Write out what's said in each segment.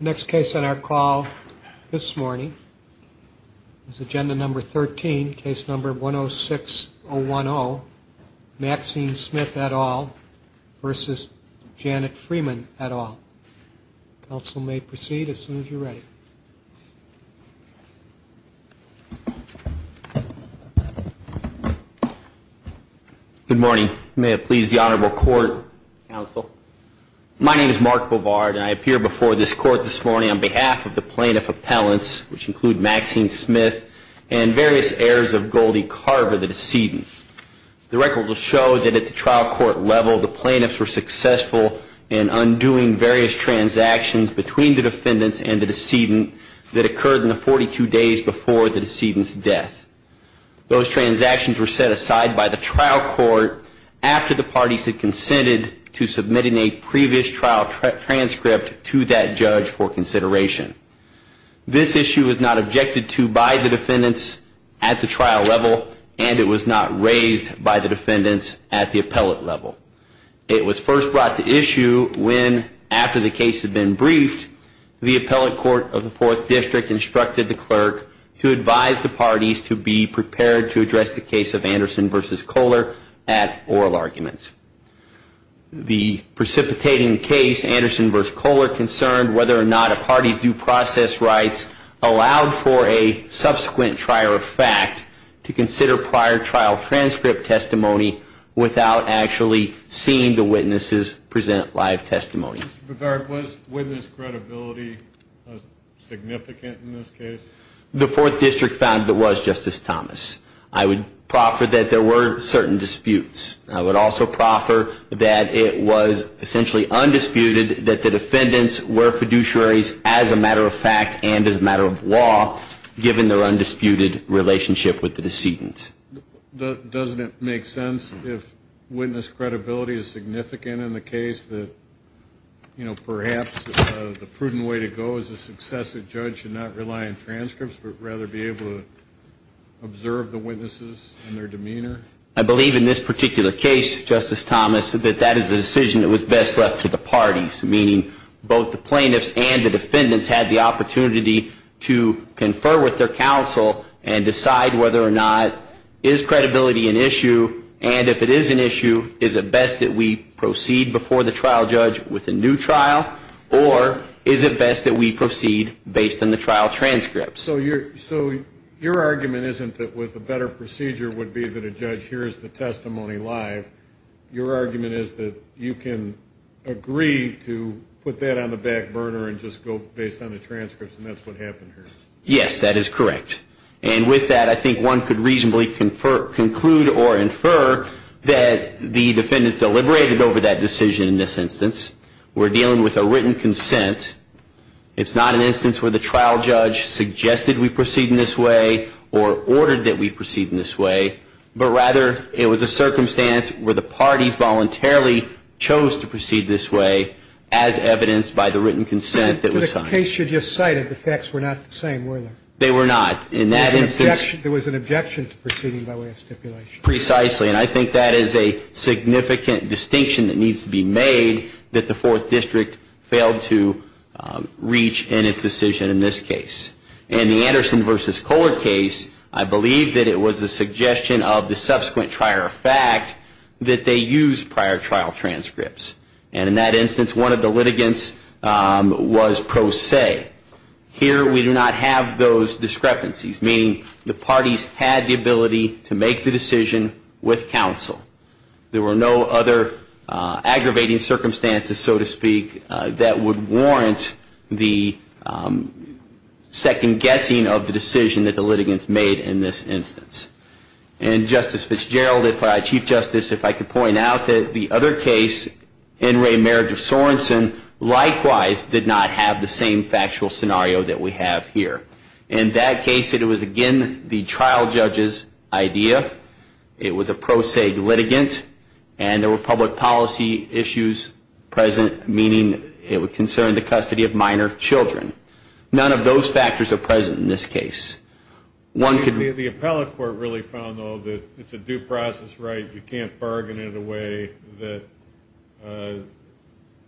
Next case on our call this morning is agenda number 13, case number 106010, Maxine Smith et al. v. Janet Freeman et al. Counsel may proceed as soon as you're ready. Good morning. May it please the Honorable Court, Counsel. My name is Mark Bovard, and I appear before this court this morning on behalf of the plaintiff appellants, which include Maxine Smith and various heirs of Goldie Carver, the decedent. The record will show that at the trial court level, the plaintiffs were successful in undoing various transactions between the defendants and the decedent that occurred in the 42 days before the decedent's death. Those transactions were set aside by the trial court after the parties had consented to submitting a previous trial transcript to that judge for consideration. This issue was not objected to by the defendants at the trial level, and it was not raised by the defendants at the appellate level. It was first brought to issue when, after the case had been briefed, the appellate court of the Fourth District instructed the clerk to advise the parties to be prepared to address the case of Anderson v. Kohler at oral arguments. The precipitating case, Anderson v. Kohler, concerned whether or not a party's due process rights allowed for a subsequent trier of fact to consider prior trial transcript testimony without actually seeing the witnesses present live testimony. Mr. Bovard, was witness credibility significant in this case? The Fourth District found it was, Justice Thomas. I would proffer that there were certain disputes. I would also proffer that it was essentially undisputed that the defendants were fiduciaries as a matter of fact and as a matter of law, given their undisputed relationship with the decedent. Doesn't it make sense, if witness credibility is significant in the case, that perhaps the prudent way to go as a successive judge should not rely on transcripts, but rather be able to observe the witnesses and their demeanor? I believe in this particular case, Justice Thomas, that that is a decision that was best left to the parties, meaning both the plaintiffs and the defendants had the opportunity to confer with their counsel and decide whether or not is credibility an issue, and if it is an issue, is it best that we proceed before the trial judge with a new trial, or is it best that we proceed based on the trial transcripts? So your argument isn't that with a better procedure would be that a judge hears the testimony live. Your argument is that you can agree to put that on the back burner and just go based on the transcripts, and that's what happened here. Yes, that is correct. And with that, I think one could reasonably conclude or infer that the defendants deliberated over that decision in this instance. We're dealing with a written consent. It's not an instance where the trial judge suggested we proceed in this way or ordered that we proceed in this way, but rather it was a circumstance where the parties voluntarily chose to proceed this way as evidenced by the written consent that was signed. To the case you just cited, the facts were not the same, were they? They were not. In that instance, there was an objection to proceeding by way of stipulation. Precisely, and I think that is a significant distinction that needs to be made that the Fourth District failed to reach in its decision in this case. In the Anderson v. Kohler case, I believe that it was a suggestion of the subsequent trial fact that they used prior trial transcripts. And in that instance, one of the litigants was pro se. Here, we do not have those discrepancies, meaning the parties had the ability to make the decision with counsel. There were no other aggravating circumstances, so to speak, that would warrant the second guessing of the decision that the litigants made in this instance. And Justice Fitzgerald, Chief Justice, if I could point out that the other case, N. Ray marriage of Sorenson, likewise did not have the same factual scenario that we have here. In that case, it was again the trial judge's idea. It was a pro se litigant, and there were public policy issues present, meaning it would concern the custody of minor children. None of those factors are present in this case. The appellate court really found, though, that it's a due process right. You can't bargain in a way that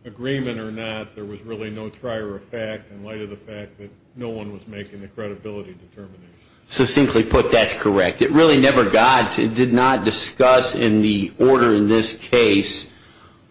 agreement or not, there was really no trier of fact in light of the fact that no one was making the credibility determination. Succinctly put, that's correct. It really never got to, did not discuss in the order in this case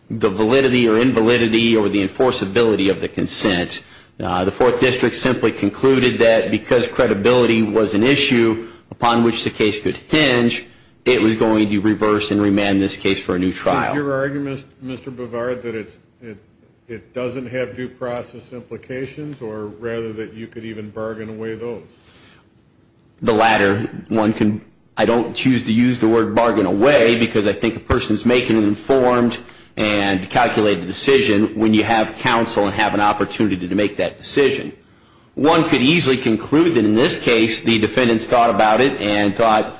the validity or invalidity or the enforceability of the consent. The fourth district simply concluded that because credibility was an issue upon which the case could hinge, it was going to reverse and remand this case for a new trial. Is your argument, Mr. Bavard, that it doesn't have due process implications or rather that you could even bargain away those? The latter. I don't choose to use the word bargain away because I think a person is making an informed and calculated decision when you have counsel and have an opportunity to make that decision. One could easily conclude that in this case the defendants thought about it and thought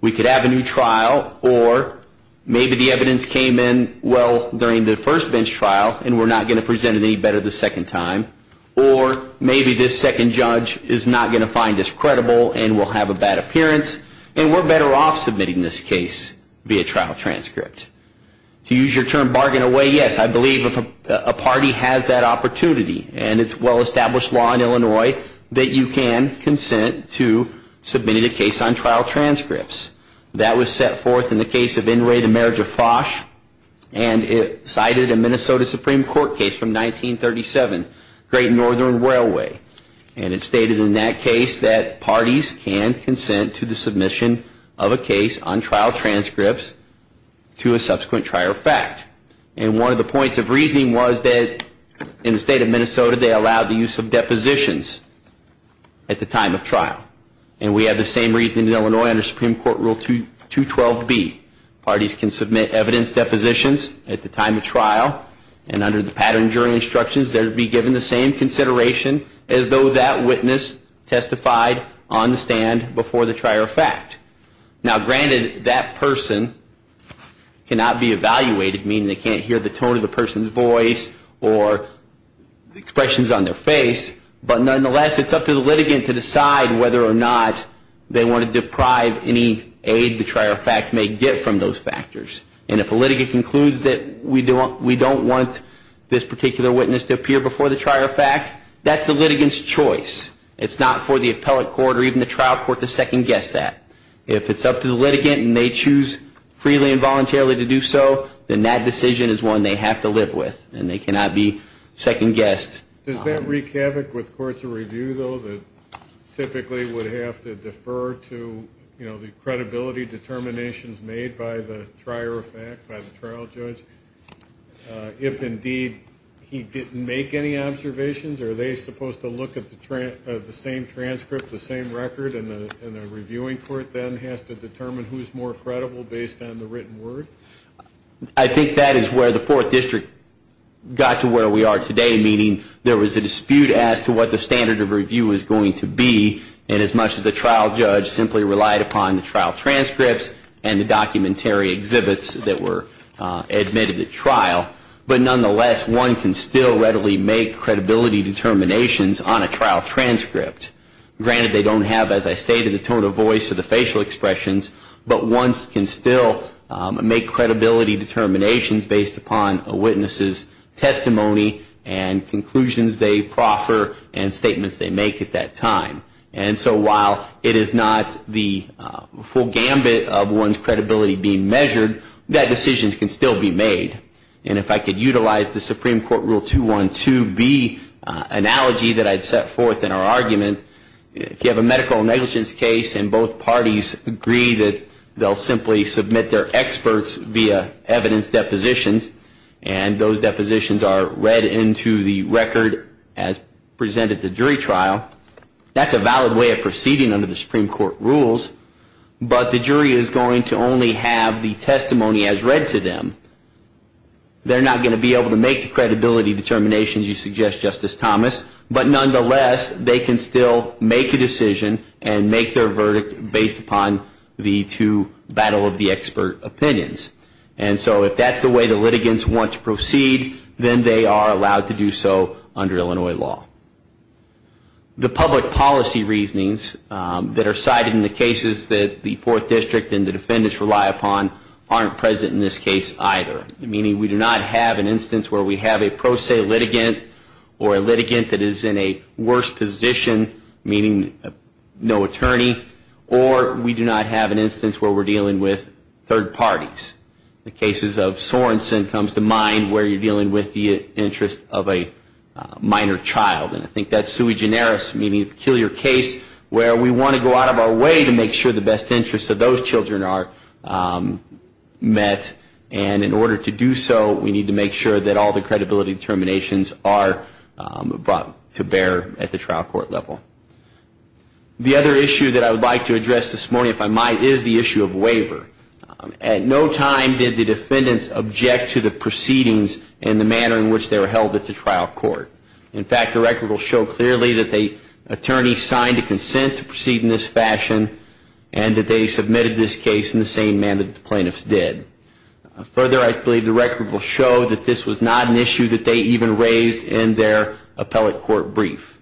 we could have a new trial or maybe the evidence came in well during the first bench trial and we're not going to present it any better the second time. Or maybe this second judge is not going to find this credible and will have a bad appearance and we're better off submitting this case via trial transcript. To use your term bargain away, yes, I believe if a party has that opportunity and it's well established law in Illinois that you can consent to submitting a case on trial transcripts. That was set forth in the case of Inouye the Marriage of Fosh and it cited a Minnesota Supreme Court case from 1937, Great Northern Railway. And it stated in that case that parties can consent to the submission of a case on trial transcripts to a subsequent trial fact. And one of the points of reasoning was that in the state of Minnesota they allowed the use of depositions at the time of trial. And we have the same reasoning in Illinois under Supreme Court Rule 212B. Parties can submit evidence depositions at the time of trial and under the pattern jury instructions they would be given the same consideration as though that witness testified on the stand before the trial fact. Now granted, that person cannot be evaluated, meaning they can't hear the tone of the person's voice or expressions on their face. But nonetheless, it's up to the litigant to decide whether or not they want to deprive any aid the trial fact may get from those factors. And if a litigant concludes that we don't want this particular witness to appear before the trial fact, that's the litigant's choice. It's not for the appellate court or even the trial court to second-guess that. If it's up to the litigant and they choose freely and voluntarily to do so, then that decision is one they have to live with and they cannot be second-guessed. Does that wreak havoc with courts of review, though, that typically would have to defer to, you know, the credibility determinations made by the trial judge? If, indeed, he didn't make any observations, are they supposed to look at the same transcript, the same record, and the reviewing court then has to determine who's more credible based on the written word? I think that is where the Fourth District got to where we are today, meaning there was a dispute as to what the standard of review was going to be. And as much as the trial judge simply relied upon the trial transcripts and the documentary exhibits that were admitted at trial, but nonetheless, one can still readily make credibility determinations on a trial transcript. Granted, they don't have, as I stated, the tone of voice or the facial expressions, but one can still make credibility determinations based upon a witness's testimony and conclusions they proffer and statements they make at that time. And so while it is not the full gambit of one's credibility being measured, that decision can still be made. And if I could utilize the Supreme Court Rule 212B analogy that I'd set forth in our argument, if you have a medical negligence case and both parties agree that they'll simply submit their experts via evidence depositions, and those depositions are read into the record as presented at the jury trial, that's a valid move. That's a way of proceeding under the Supreme Court rules, but the jury is going to only have the testimony as read to them. They're not going to be able to make the credibility determinations you suggest, Justice Thomas, but nonetheless, they can still make a decision and make their verdict based upon the two battle of the expert opinions. And so if that's the way the litigants want to proceed, then they are allowed to do so under Illinois law. The public policy reasonings that are cited in the cases that the Fourth District and the defendants rely upon aren't present in this case either, meaning we do not have an instance where we have a pro se litigant or a litigant that is in a worse position, meaning no attorney, or we do not have an instance where we're dealing with third parties. The cases of Sorenson comes to mind where you're dealing with the interest of a minor child, and I think that's sui generis, meaning a peculiar case where we want to go out of our way to make sure the best interests of those children are met, and in order to do so, we need to make sure that all the credibility determinations are brought to bear at the trial court level. The other issue that I would like to address this morning, if I might, is the issue of waiver. At no time did the defendants object to the proceedings in the manner in which they were held at the trial court. In fact, the record will show clearly that the attorney signed a consent to proceed in this fashion, and that they submitted this case in the same manner that the plaintiffs did. Further, I believe the record will show that this was not an issue that they even raised in their appellate court brief.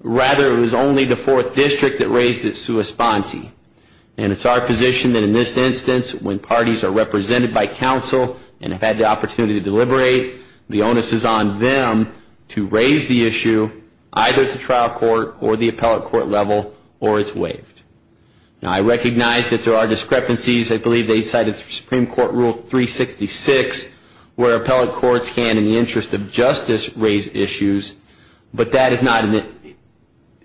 Rather, it was only the Fourth District that raised it sua sponte. And it's our position that in this instance, when parties are represented by counsel and have had the opportunity to deliberate, the onus is on them to raise the issue, either at the trial court or the appellate court level, or it's waived. Now, I recognize that there are discrepancies. I believe they cited Supreme Court Rule 366, where appellate courts can, in the interest of justice, raise issues. But that is not an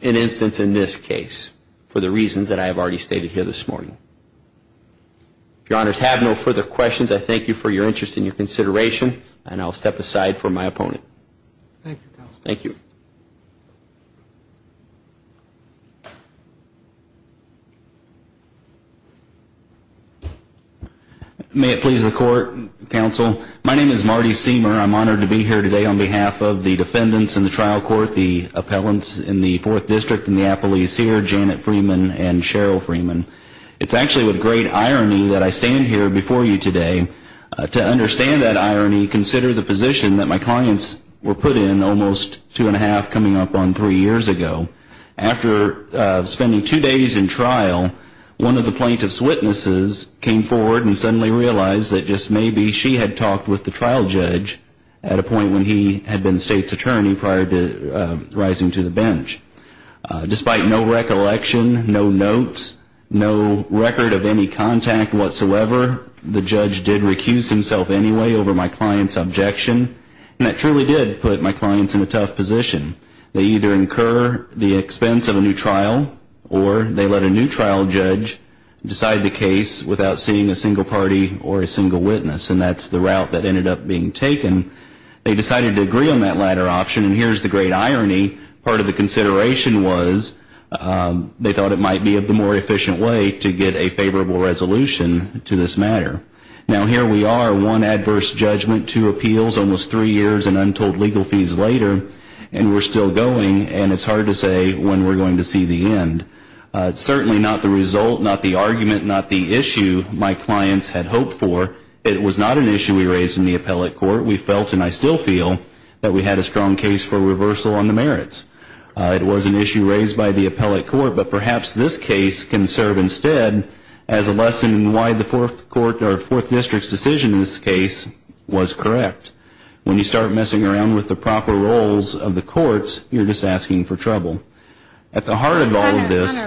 instance in this case, for the reasons that I have already stated here this morning. If your honors have no further questions, I thank you for your interest and your consideration. And I'll step aside for my opponent. May it please the court, counsel. My name is Marty Seamer. I'm honored to be here today on behalf of the defendants in the trial court, the appellants in the Fourth District and the appellees here, Janet Freeman and Cheryl Freeman. It's actually with great irony that I stand here before you today. To understand that irony, consider the position that my clients were put in almost two and a half coming up on three years ago. After spending two days in trial, one of the plaintiff's witnesses came forward and suddenly realized that just maybe she had talked with the trial judge at a point when he had been state's attorney prior to rising to the bench. Despite no recollection, no notes, no record of any contact whatsoever, the judge did recuse himself anyway over my client's objection. And that truly did put my clients in a tough position. They either incur the expense of a new trial or they let a new trial judge decide the case without seeing a single party or a single witness. And that's the route that ended up being taken. They decided to agree on that latter option. And here's the great irony, part of the consideration was they thought it might be a more efficient way to get a favorable resolution to this matter. Now, here we are, one adverse judgment, two appeals, almost three years and untold legal fees later, and we're still going. And it's hard to say when we're going to see the end. Certainly not the result, not the argument, not the issue my clients had hoped for. It was not an issue we raised in the appellate court. We felt, and I still feel, that we had a strong case for reversal on the merits. It was an issue raised by the appellate court, but perhaps this case can serve instead as a lesson in why the fourth court or fourth district's decision in this case was correct. When you start messing around with the proper roles of the courts, you're just asking for trouble. At the heart of all of this...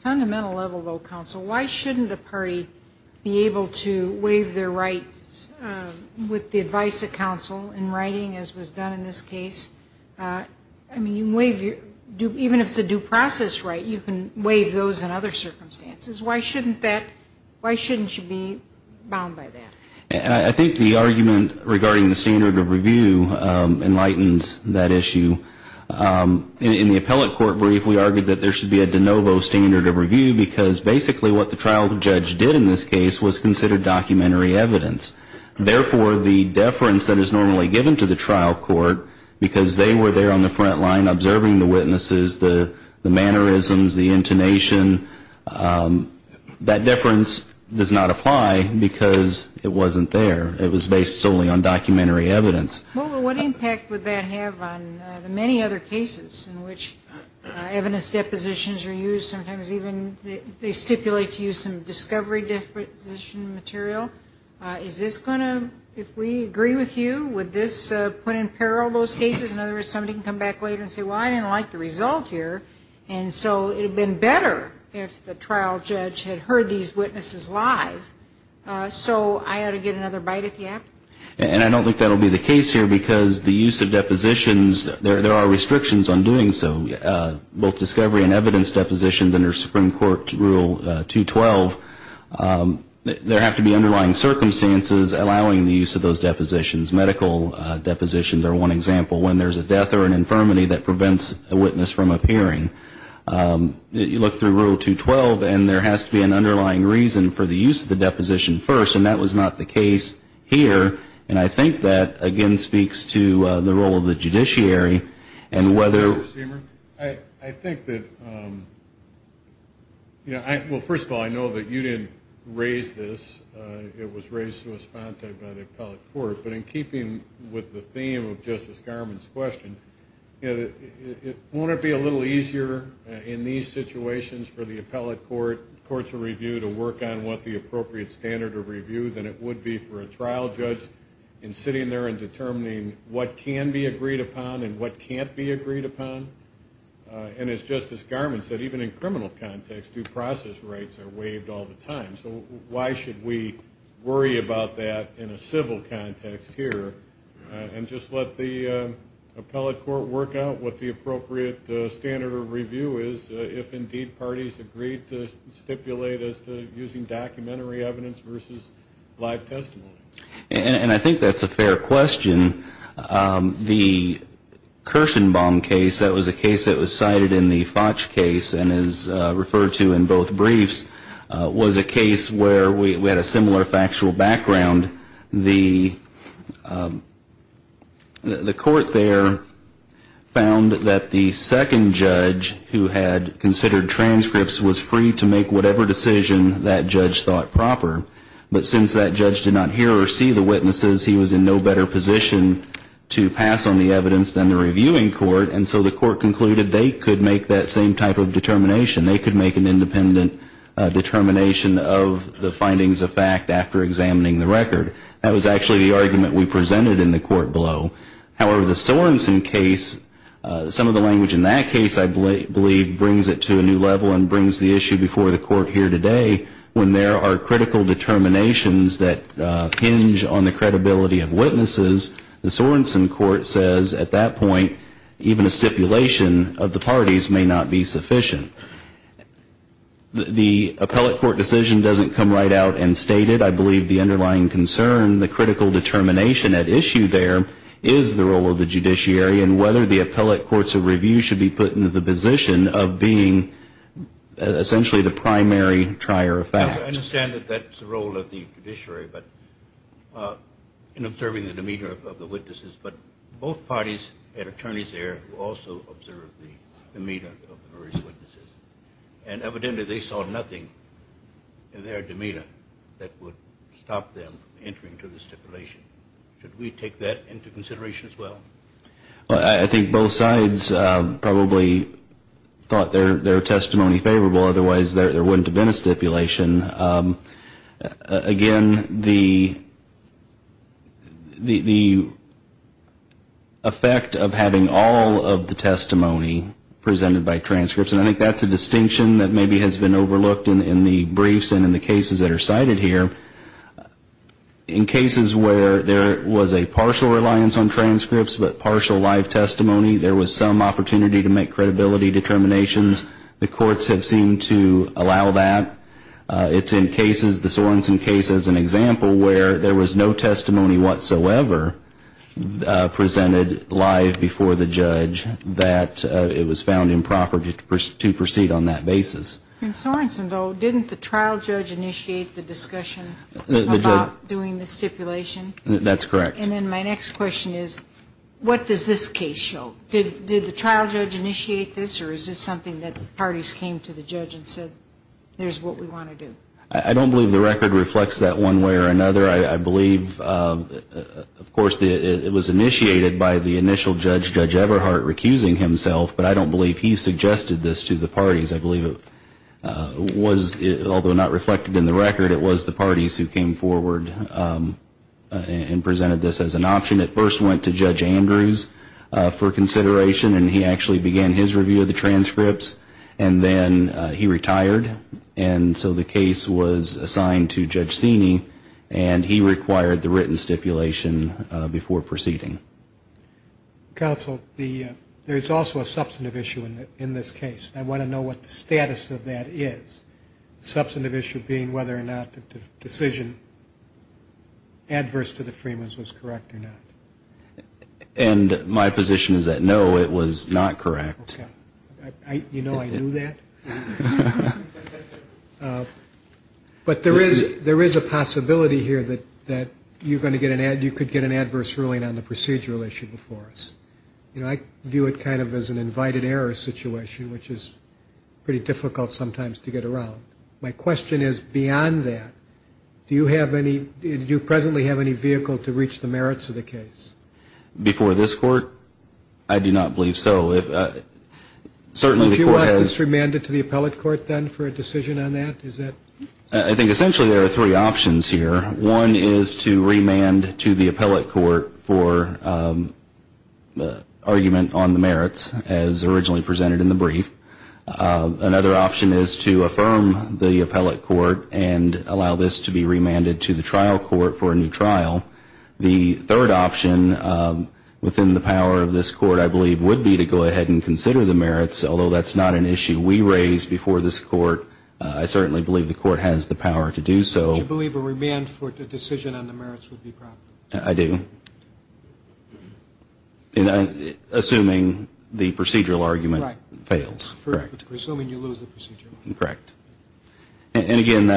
Fundamental level, though, counsel, why shouldn't a party be able to waive their rights with the advice of counsel in writing, as was done in this case? I mean, even if it's a due process right, you can waive those in other circumstances. Why shouldn't you be bound by that? I think the argument regarding the standard of review enlightens that issue. In the appellate court brief, we argued that there should be a de novo standard of review, because basically what the trial judge did in this case was consider documentary evidence. Therefore, the deference that is normally given to the trial court, because they were there on the front line observing the witnesses, the mannerisms, the intonation, that deference does not apply, because it wasn't there. It was based solely on documentary evidence. Well, what impact would that have on the many other cases in which evidence depositions are used? Sometimes even they stipulate to use some discovery deposition material. Is this going to, if we agree with you, would this put in peril those cases? In other words, somebody can come back later and say, well, I didn't like the result here, and so it would have been better if the trial judge had heard these witnesses live. So I ought to get another bite at the app? And I don't think that will be the case here, because the use of depositions, there are restrictions on doing so. Both discovery and evidence depositions under Supreme Court Rule 212, there have to be underlying circumstances allowing the use of those depositions. Medical depositions are one example, when there's a death or an infirmity that prevents a witness from appearing. You look through Rule 212, and there has to be an underlying reason for the use of the deposition first, and that was not the case here, and I think that, again, speaks to the role of the judiciary and whether I think that, well, first of all, I know that you didn't raise this. It was raised by the appellate court, but in keeping with the theme of Justice Garmon's question, won't it be a little easier in these situations for the appellate court, courts of review, to work on what the appropriate standard of review than it would be for a trial judge in sitting there and determining what can be agreed upon and what can't be agreed upon? And as Justice Garmon said, even in criminal context, due process rights are waived all the time. So why should we worry about that in a civil context here, and just let the appellate court work out what the appropriate standard of review is, if indeed parties agree to stipulate as to using documentary evidence versus live testimony? And I think that's a fair question. The Kirshenbaum case, that was a case that was cited in the Fotch case and is referred to in both briefs, was a case where we had a similar factual background. And the court there found that the second judge who had considered transcripts was free to make whatever decision that judge thought proper, but since that judge did not hear or see the witnesses, he was in no better position to pass on the evidence than the reviewing court, and so the court concluded they could make that same type of determination. They could make an independent determination of the findings of fact after examining the record. That was actually the argument we presented in the court below. However, the Sorensen case, some of the language in that case I believe brings it to a new level and brings the issue before the court here today when there are critical determinations that hinge on the credibility of witnesses. The Sorensen court says at that point even a stipulation of the parties may not be sufficient. The appellate court decision doesn't come right out and state it. I believe the underlying concern, the critical determination at issue there is the role of the judiciary and whether the appellate courts of review should be put into the position of being essentially the primary trier of fact. I understand that that's the role of the judiciary in observing the demeanor of the witnesses, but both parties had attorneys there who also observed the demeanor of the various witnesses, and evidently they saw nothing in their demeanor that would stop them from entering into the stipulation. Should we take that into consideration as well? I think both sides probably thought their testimony favorable, otherwise there wouldn't have been a stipulation. Again, the effect of having all of the testimony presented by transcripts, and I think that's a distinction that maybe has been overlooked in the briefs and in the cases that are cited here. In cases where there was a partial reliance on transcripts but partial live testimony, there was some opportunity to make credibility determinations, the courts have seemed to allow that. It's in cases, the Sorenson case is an example where there was no testimony whatsoever presented live before the judge that it was found improper to proceed on that basis. In Sorenson, though, didn't the trial judge initiate the discussion about doing the stipulation? That's correct. And then my next question is, what does this case show? Did the trial judge initiate this, or is this something that parties came to the judge and said, here's what we want to do? I don't believe the record reflects that one way or another. I believe, of course, it was initiated by the initial judge, Judge Everhart, recusing himself, but I don't believe he suggested this to the parties. I believe it was, although not reflected in the record, it was the parties who came forward and presented this as an option. It first went to Judge Andrews for consideration, and he actually began his review of the transcripts, and then he retired, and so the case was assigned to Judge Sini, and he required the written stipulation before proceeding. Counsel, there's also a substantive issue in this case. I want to know what the status of that is, the substantive issue being whether or not the decision adverse to the Freemans was correct or not. And my position is that, no, it was not correct. Okay. You know I knew that? But there is a possibility here that you could get an adverse ruling on the procedural issue before us. You know, I view it kind of as an invited error situation, which is pretty difficult sometimes to get around. My question is, beyond that, do you presently have any vehicle to reach the merits of the case? Before this Court? I do not believe so. Do you want this remanded to the appellate court then for a decision on that? I think essentially there are three options here. One is to remand to the appellate court for argument on the merits, as originally presented in the brief. Another option is to affirm the appellate court and allow this to be remanded to the trial court for a new trial. The third option within the power of this Court, I believe, would be to go ahead and consider the merits, although that's not an issue we raised before this Court. I certainly believe the Court has the power to do so. Do you believe a remand for the decision on the merits would be proper? I do. Assuming the procedural argument fails. Assuming you lose the procedural argument. Correct. And again,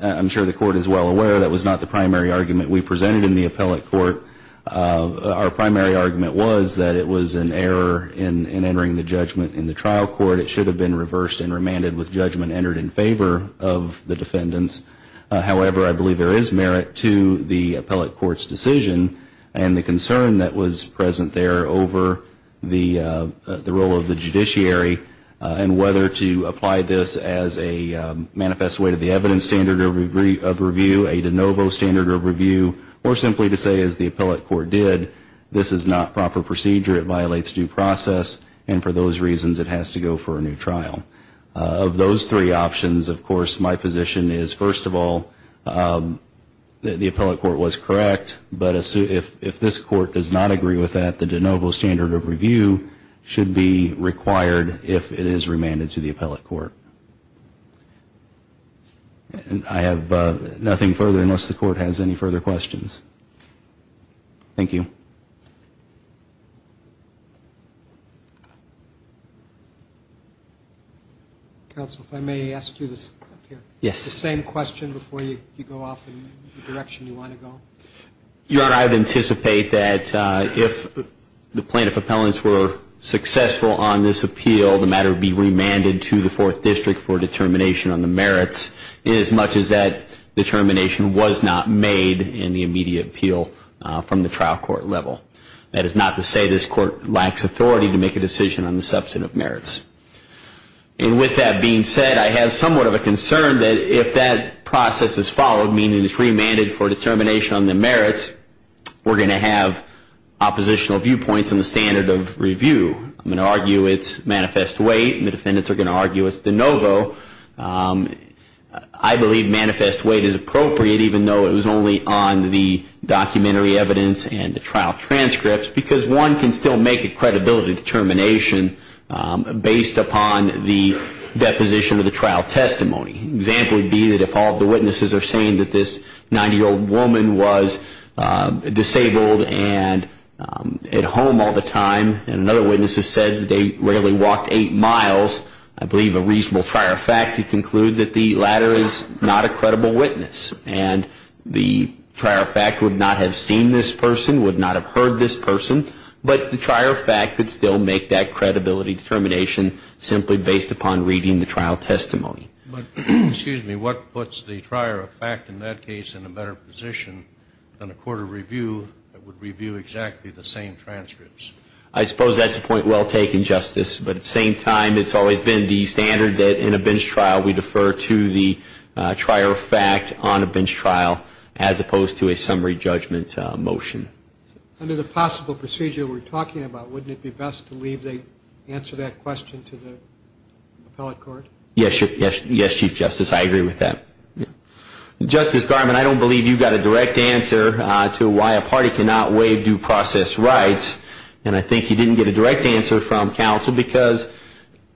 I'm sure the Court is well aware that was not the primary argument we presented in the appellate court. Our primary argument was that it was an error in entering the judgment in the trial court. It should have been reversed and remanded with judgment entered in favor of the defendants. However, I believe there is merit to the appellate court's decision and the concern that was present there over the role of the judiciary and whether to apply this as a manifest way to the evidence standard of review, a de novo standard of review, or simply to say, as the appellate court did, this is not proper procedure, it violates due process, and for those reasons it has to go for a new trial. Of those three options, of course, my position is, first of all, the appellate court was correct, but if this Court does not agree with that, the de novo standard of review should be required if it is remanded to the appellate court. I have nothing further unless the Court has any further questions. Thank you. Counsel, if I may ask you the same question before you go off in the direction you want to go. Your Honor, I would anticipate that if the plaintiff appellants were successful on this appeal, the matter would be remanded to the Fourth District for determination on the merits, as much as that determination was not made in the immediate appeal from the trial court level. That is not to say this Court lacks authority to make a decision on the substantive merits. And with that being said, I have somewhat of a concern that if that process is followed, meaning it is remanded for determination on the merits, we are going to have oppositional viewpoints on the standard of review. I am going to argue it is manifest weight, and the defendants are going to argue it is de novo. I believe manifest weight is appropriate, even though it was only on the documentary evidence and the trial transcripts, because one can still make a credibility determination based upon the deposition of the trial testimony. An example would be that if all of the witnesses are saying that this 90-year-old woman was disabled and at home all the time, and another witness has said they rarely walked eight miles, I believe a reasonable trier of fact to conclude that the latter is not a credible witness. And the trier of fact would not have seen this person, would not have heard this person, but the trier of fact could still make that credibility determination simply based upon reading the trial testimony. But, excuse me, what puts the trier of fact in that case in a better position than a court of review that would review exactly the same transcripts? I suppose that is a point well taken, Justice, but at the same time it has always been the standard that in a bench trial we defer to the trier of fact on a bench trial as opposed to a summary judgment motion. Under the possible procedure we are talking about, wouldn't it be best to leave the answer to that question to the appellate court? Yes, Chief Justice, I agree with that. Justice Garmon, I don't believe you got a direct answer to why a party cannot waive due process rights, and I think you didn't get a direct answer from counsel because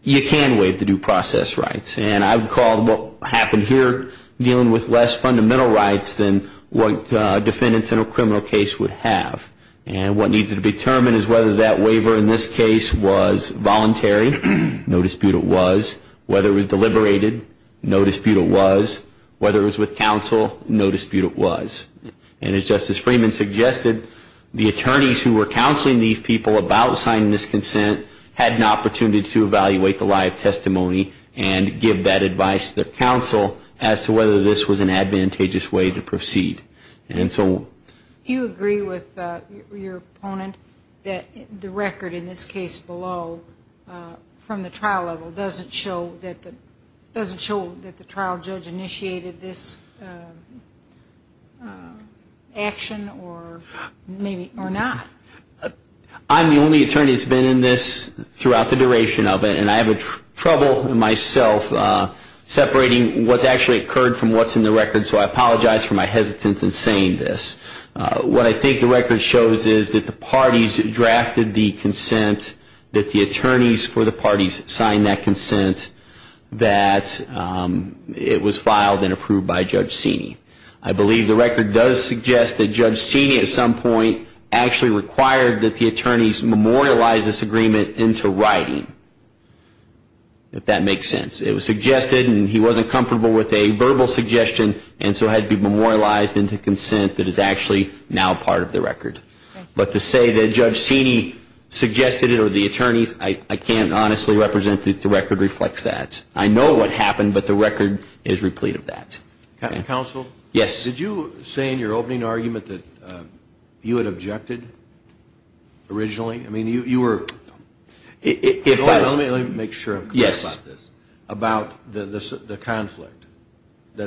you can waive the due process rights. And I would call what happened here dealing with less fundamental rights than what defendants in a criminal case would have. And what needs to be determined is whether that waiver in this case was voluntary, no dispute it was, whether it was deliberated, no dispute it was, whether it was with counsel, no dispute it was. And as Justice Freeman suggested, the attorneys who were counseling these people about signing this consent had an opportunity to evaluate the live testimony and give that advice to the counsel as to whether this was an advantageous way to proceed. Do you agree with your opponent that the record in this case below, from the trial level, doesn't show that the trial judge initiated this action or not? I'm the only attorney that's been in this throughout the duration of it, and I have trouble myself separating what's actually occurred from what's in the record, so I apologize for my hesitance in saying this. What I think the record shows is that the parties drafted the consent, that the attorneys for the parties signed that consent, that it was filed and approved by Judge Sini. I believe the record does suggest that Judge Sini at some point actually required that the attorneys memorialize this agreement into writing, if that makes sense. It was suggested, and he wasn't comfortable with a verbal suggestion, and so it had to be memorialized into consent that is actually now part of the record. But to say that Judge Sini suggested it or the attorneys, I can't honestly represent that the record reflects that. I know what happened, but the record is replete of that. Counsel, did you say in your opening argument that you had objected originally? Let me make sure I'm clear about this. About the conflict, that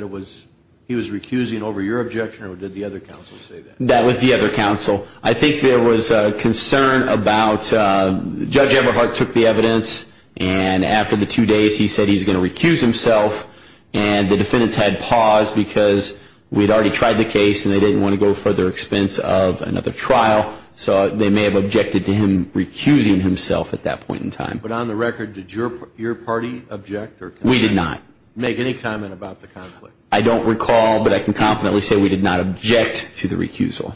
he was recusing over your objection, or did the other counsel say that? That was the other counsel. I think there was a concern about Judge Eberhardt took the evidence, and after the two days he said he was going to recuse himself, and the defendants had paused because we had already tried the case, and they didn't want to go to further expense of another trial, so they may have objected to him recusing himself at that point in time. But on the record, did your party object or consent? We did not. We did not make any comment about the conflict. I don't recall, but I can confidently say we did not object to the recusal.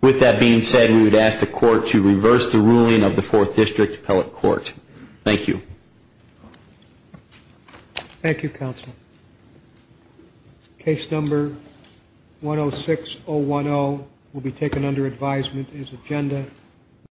With that being said, we would ask the Court to reverse the ruling of the Fourth District Appellate Court. Thank you. Thank you, Counsel.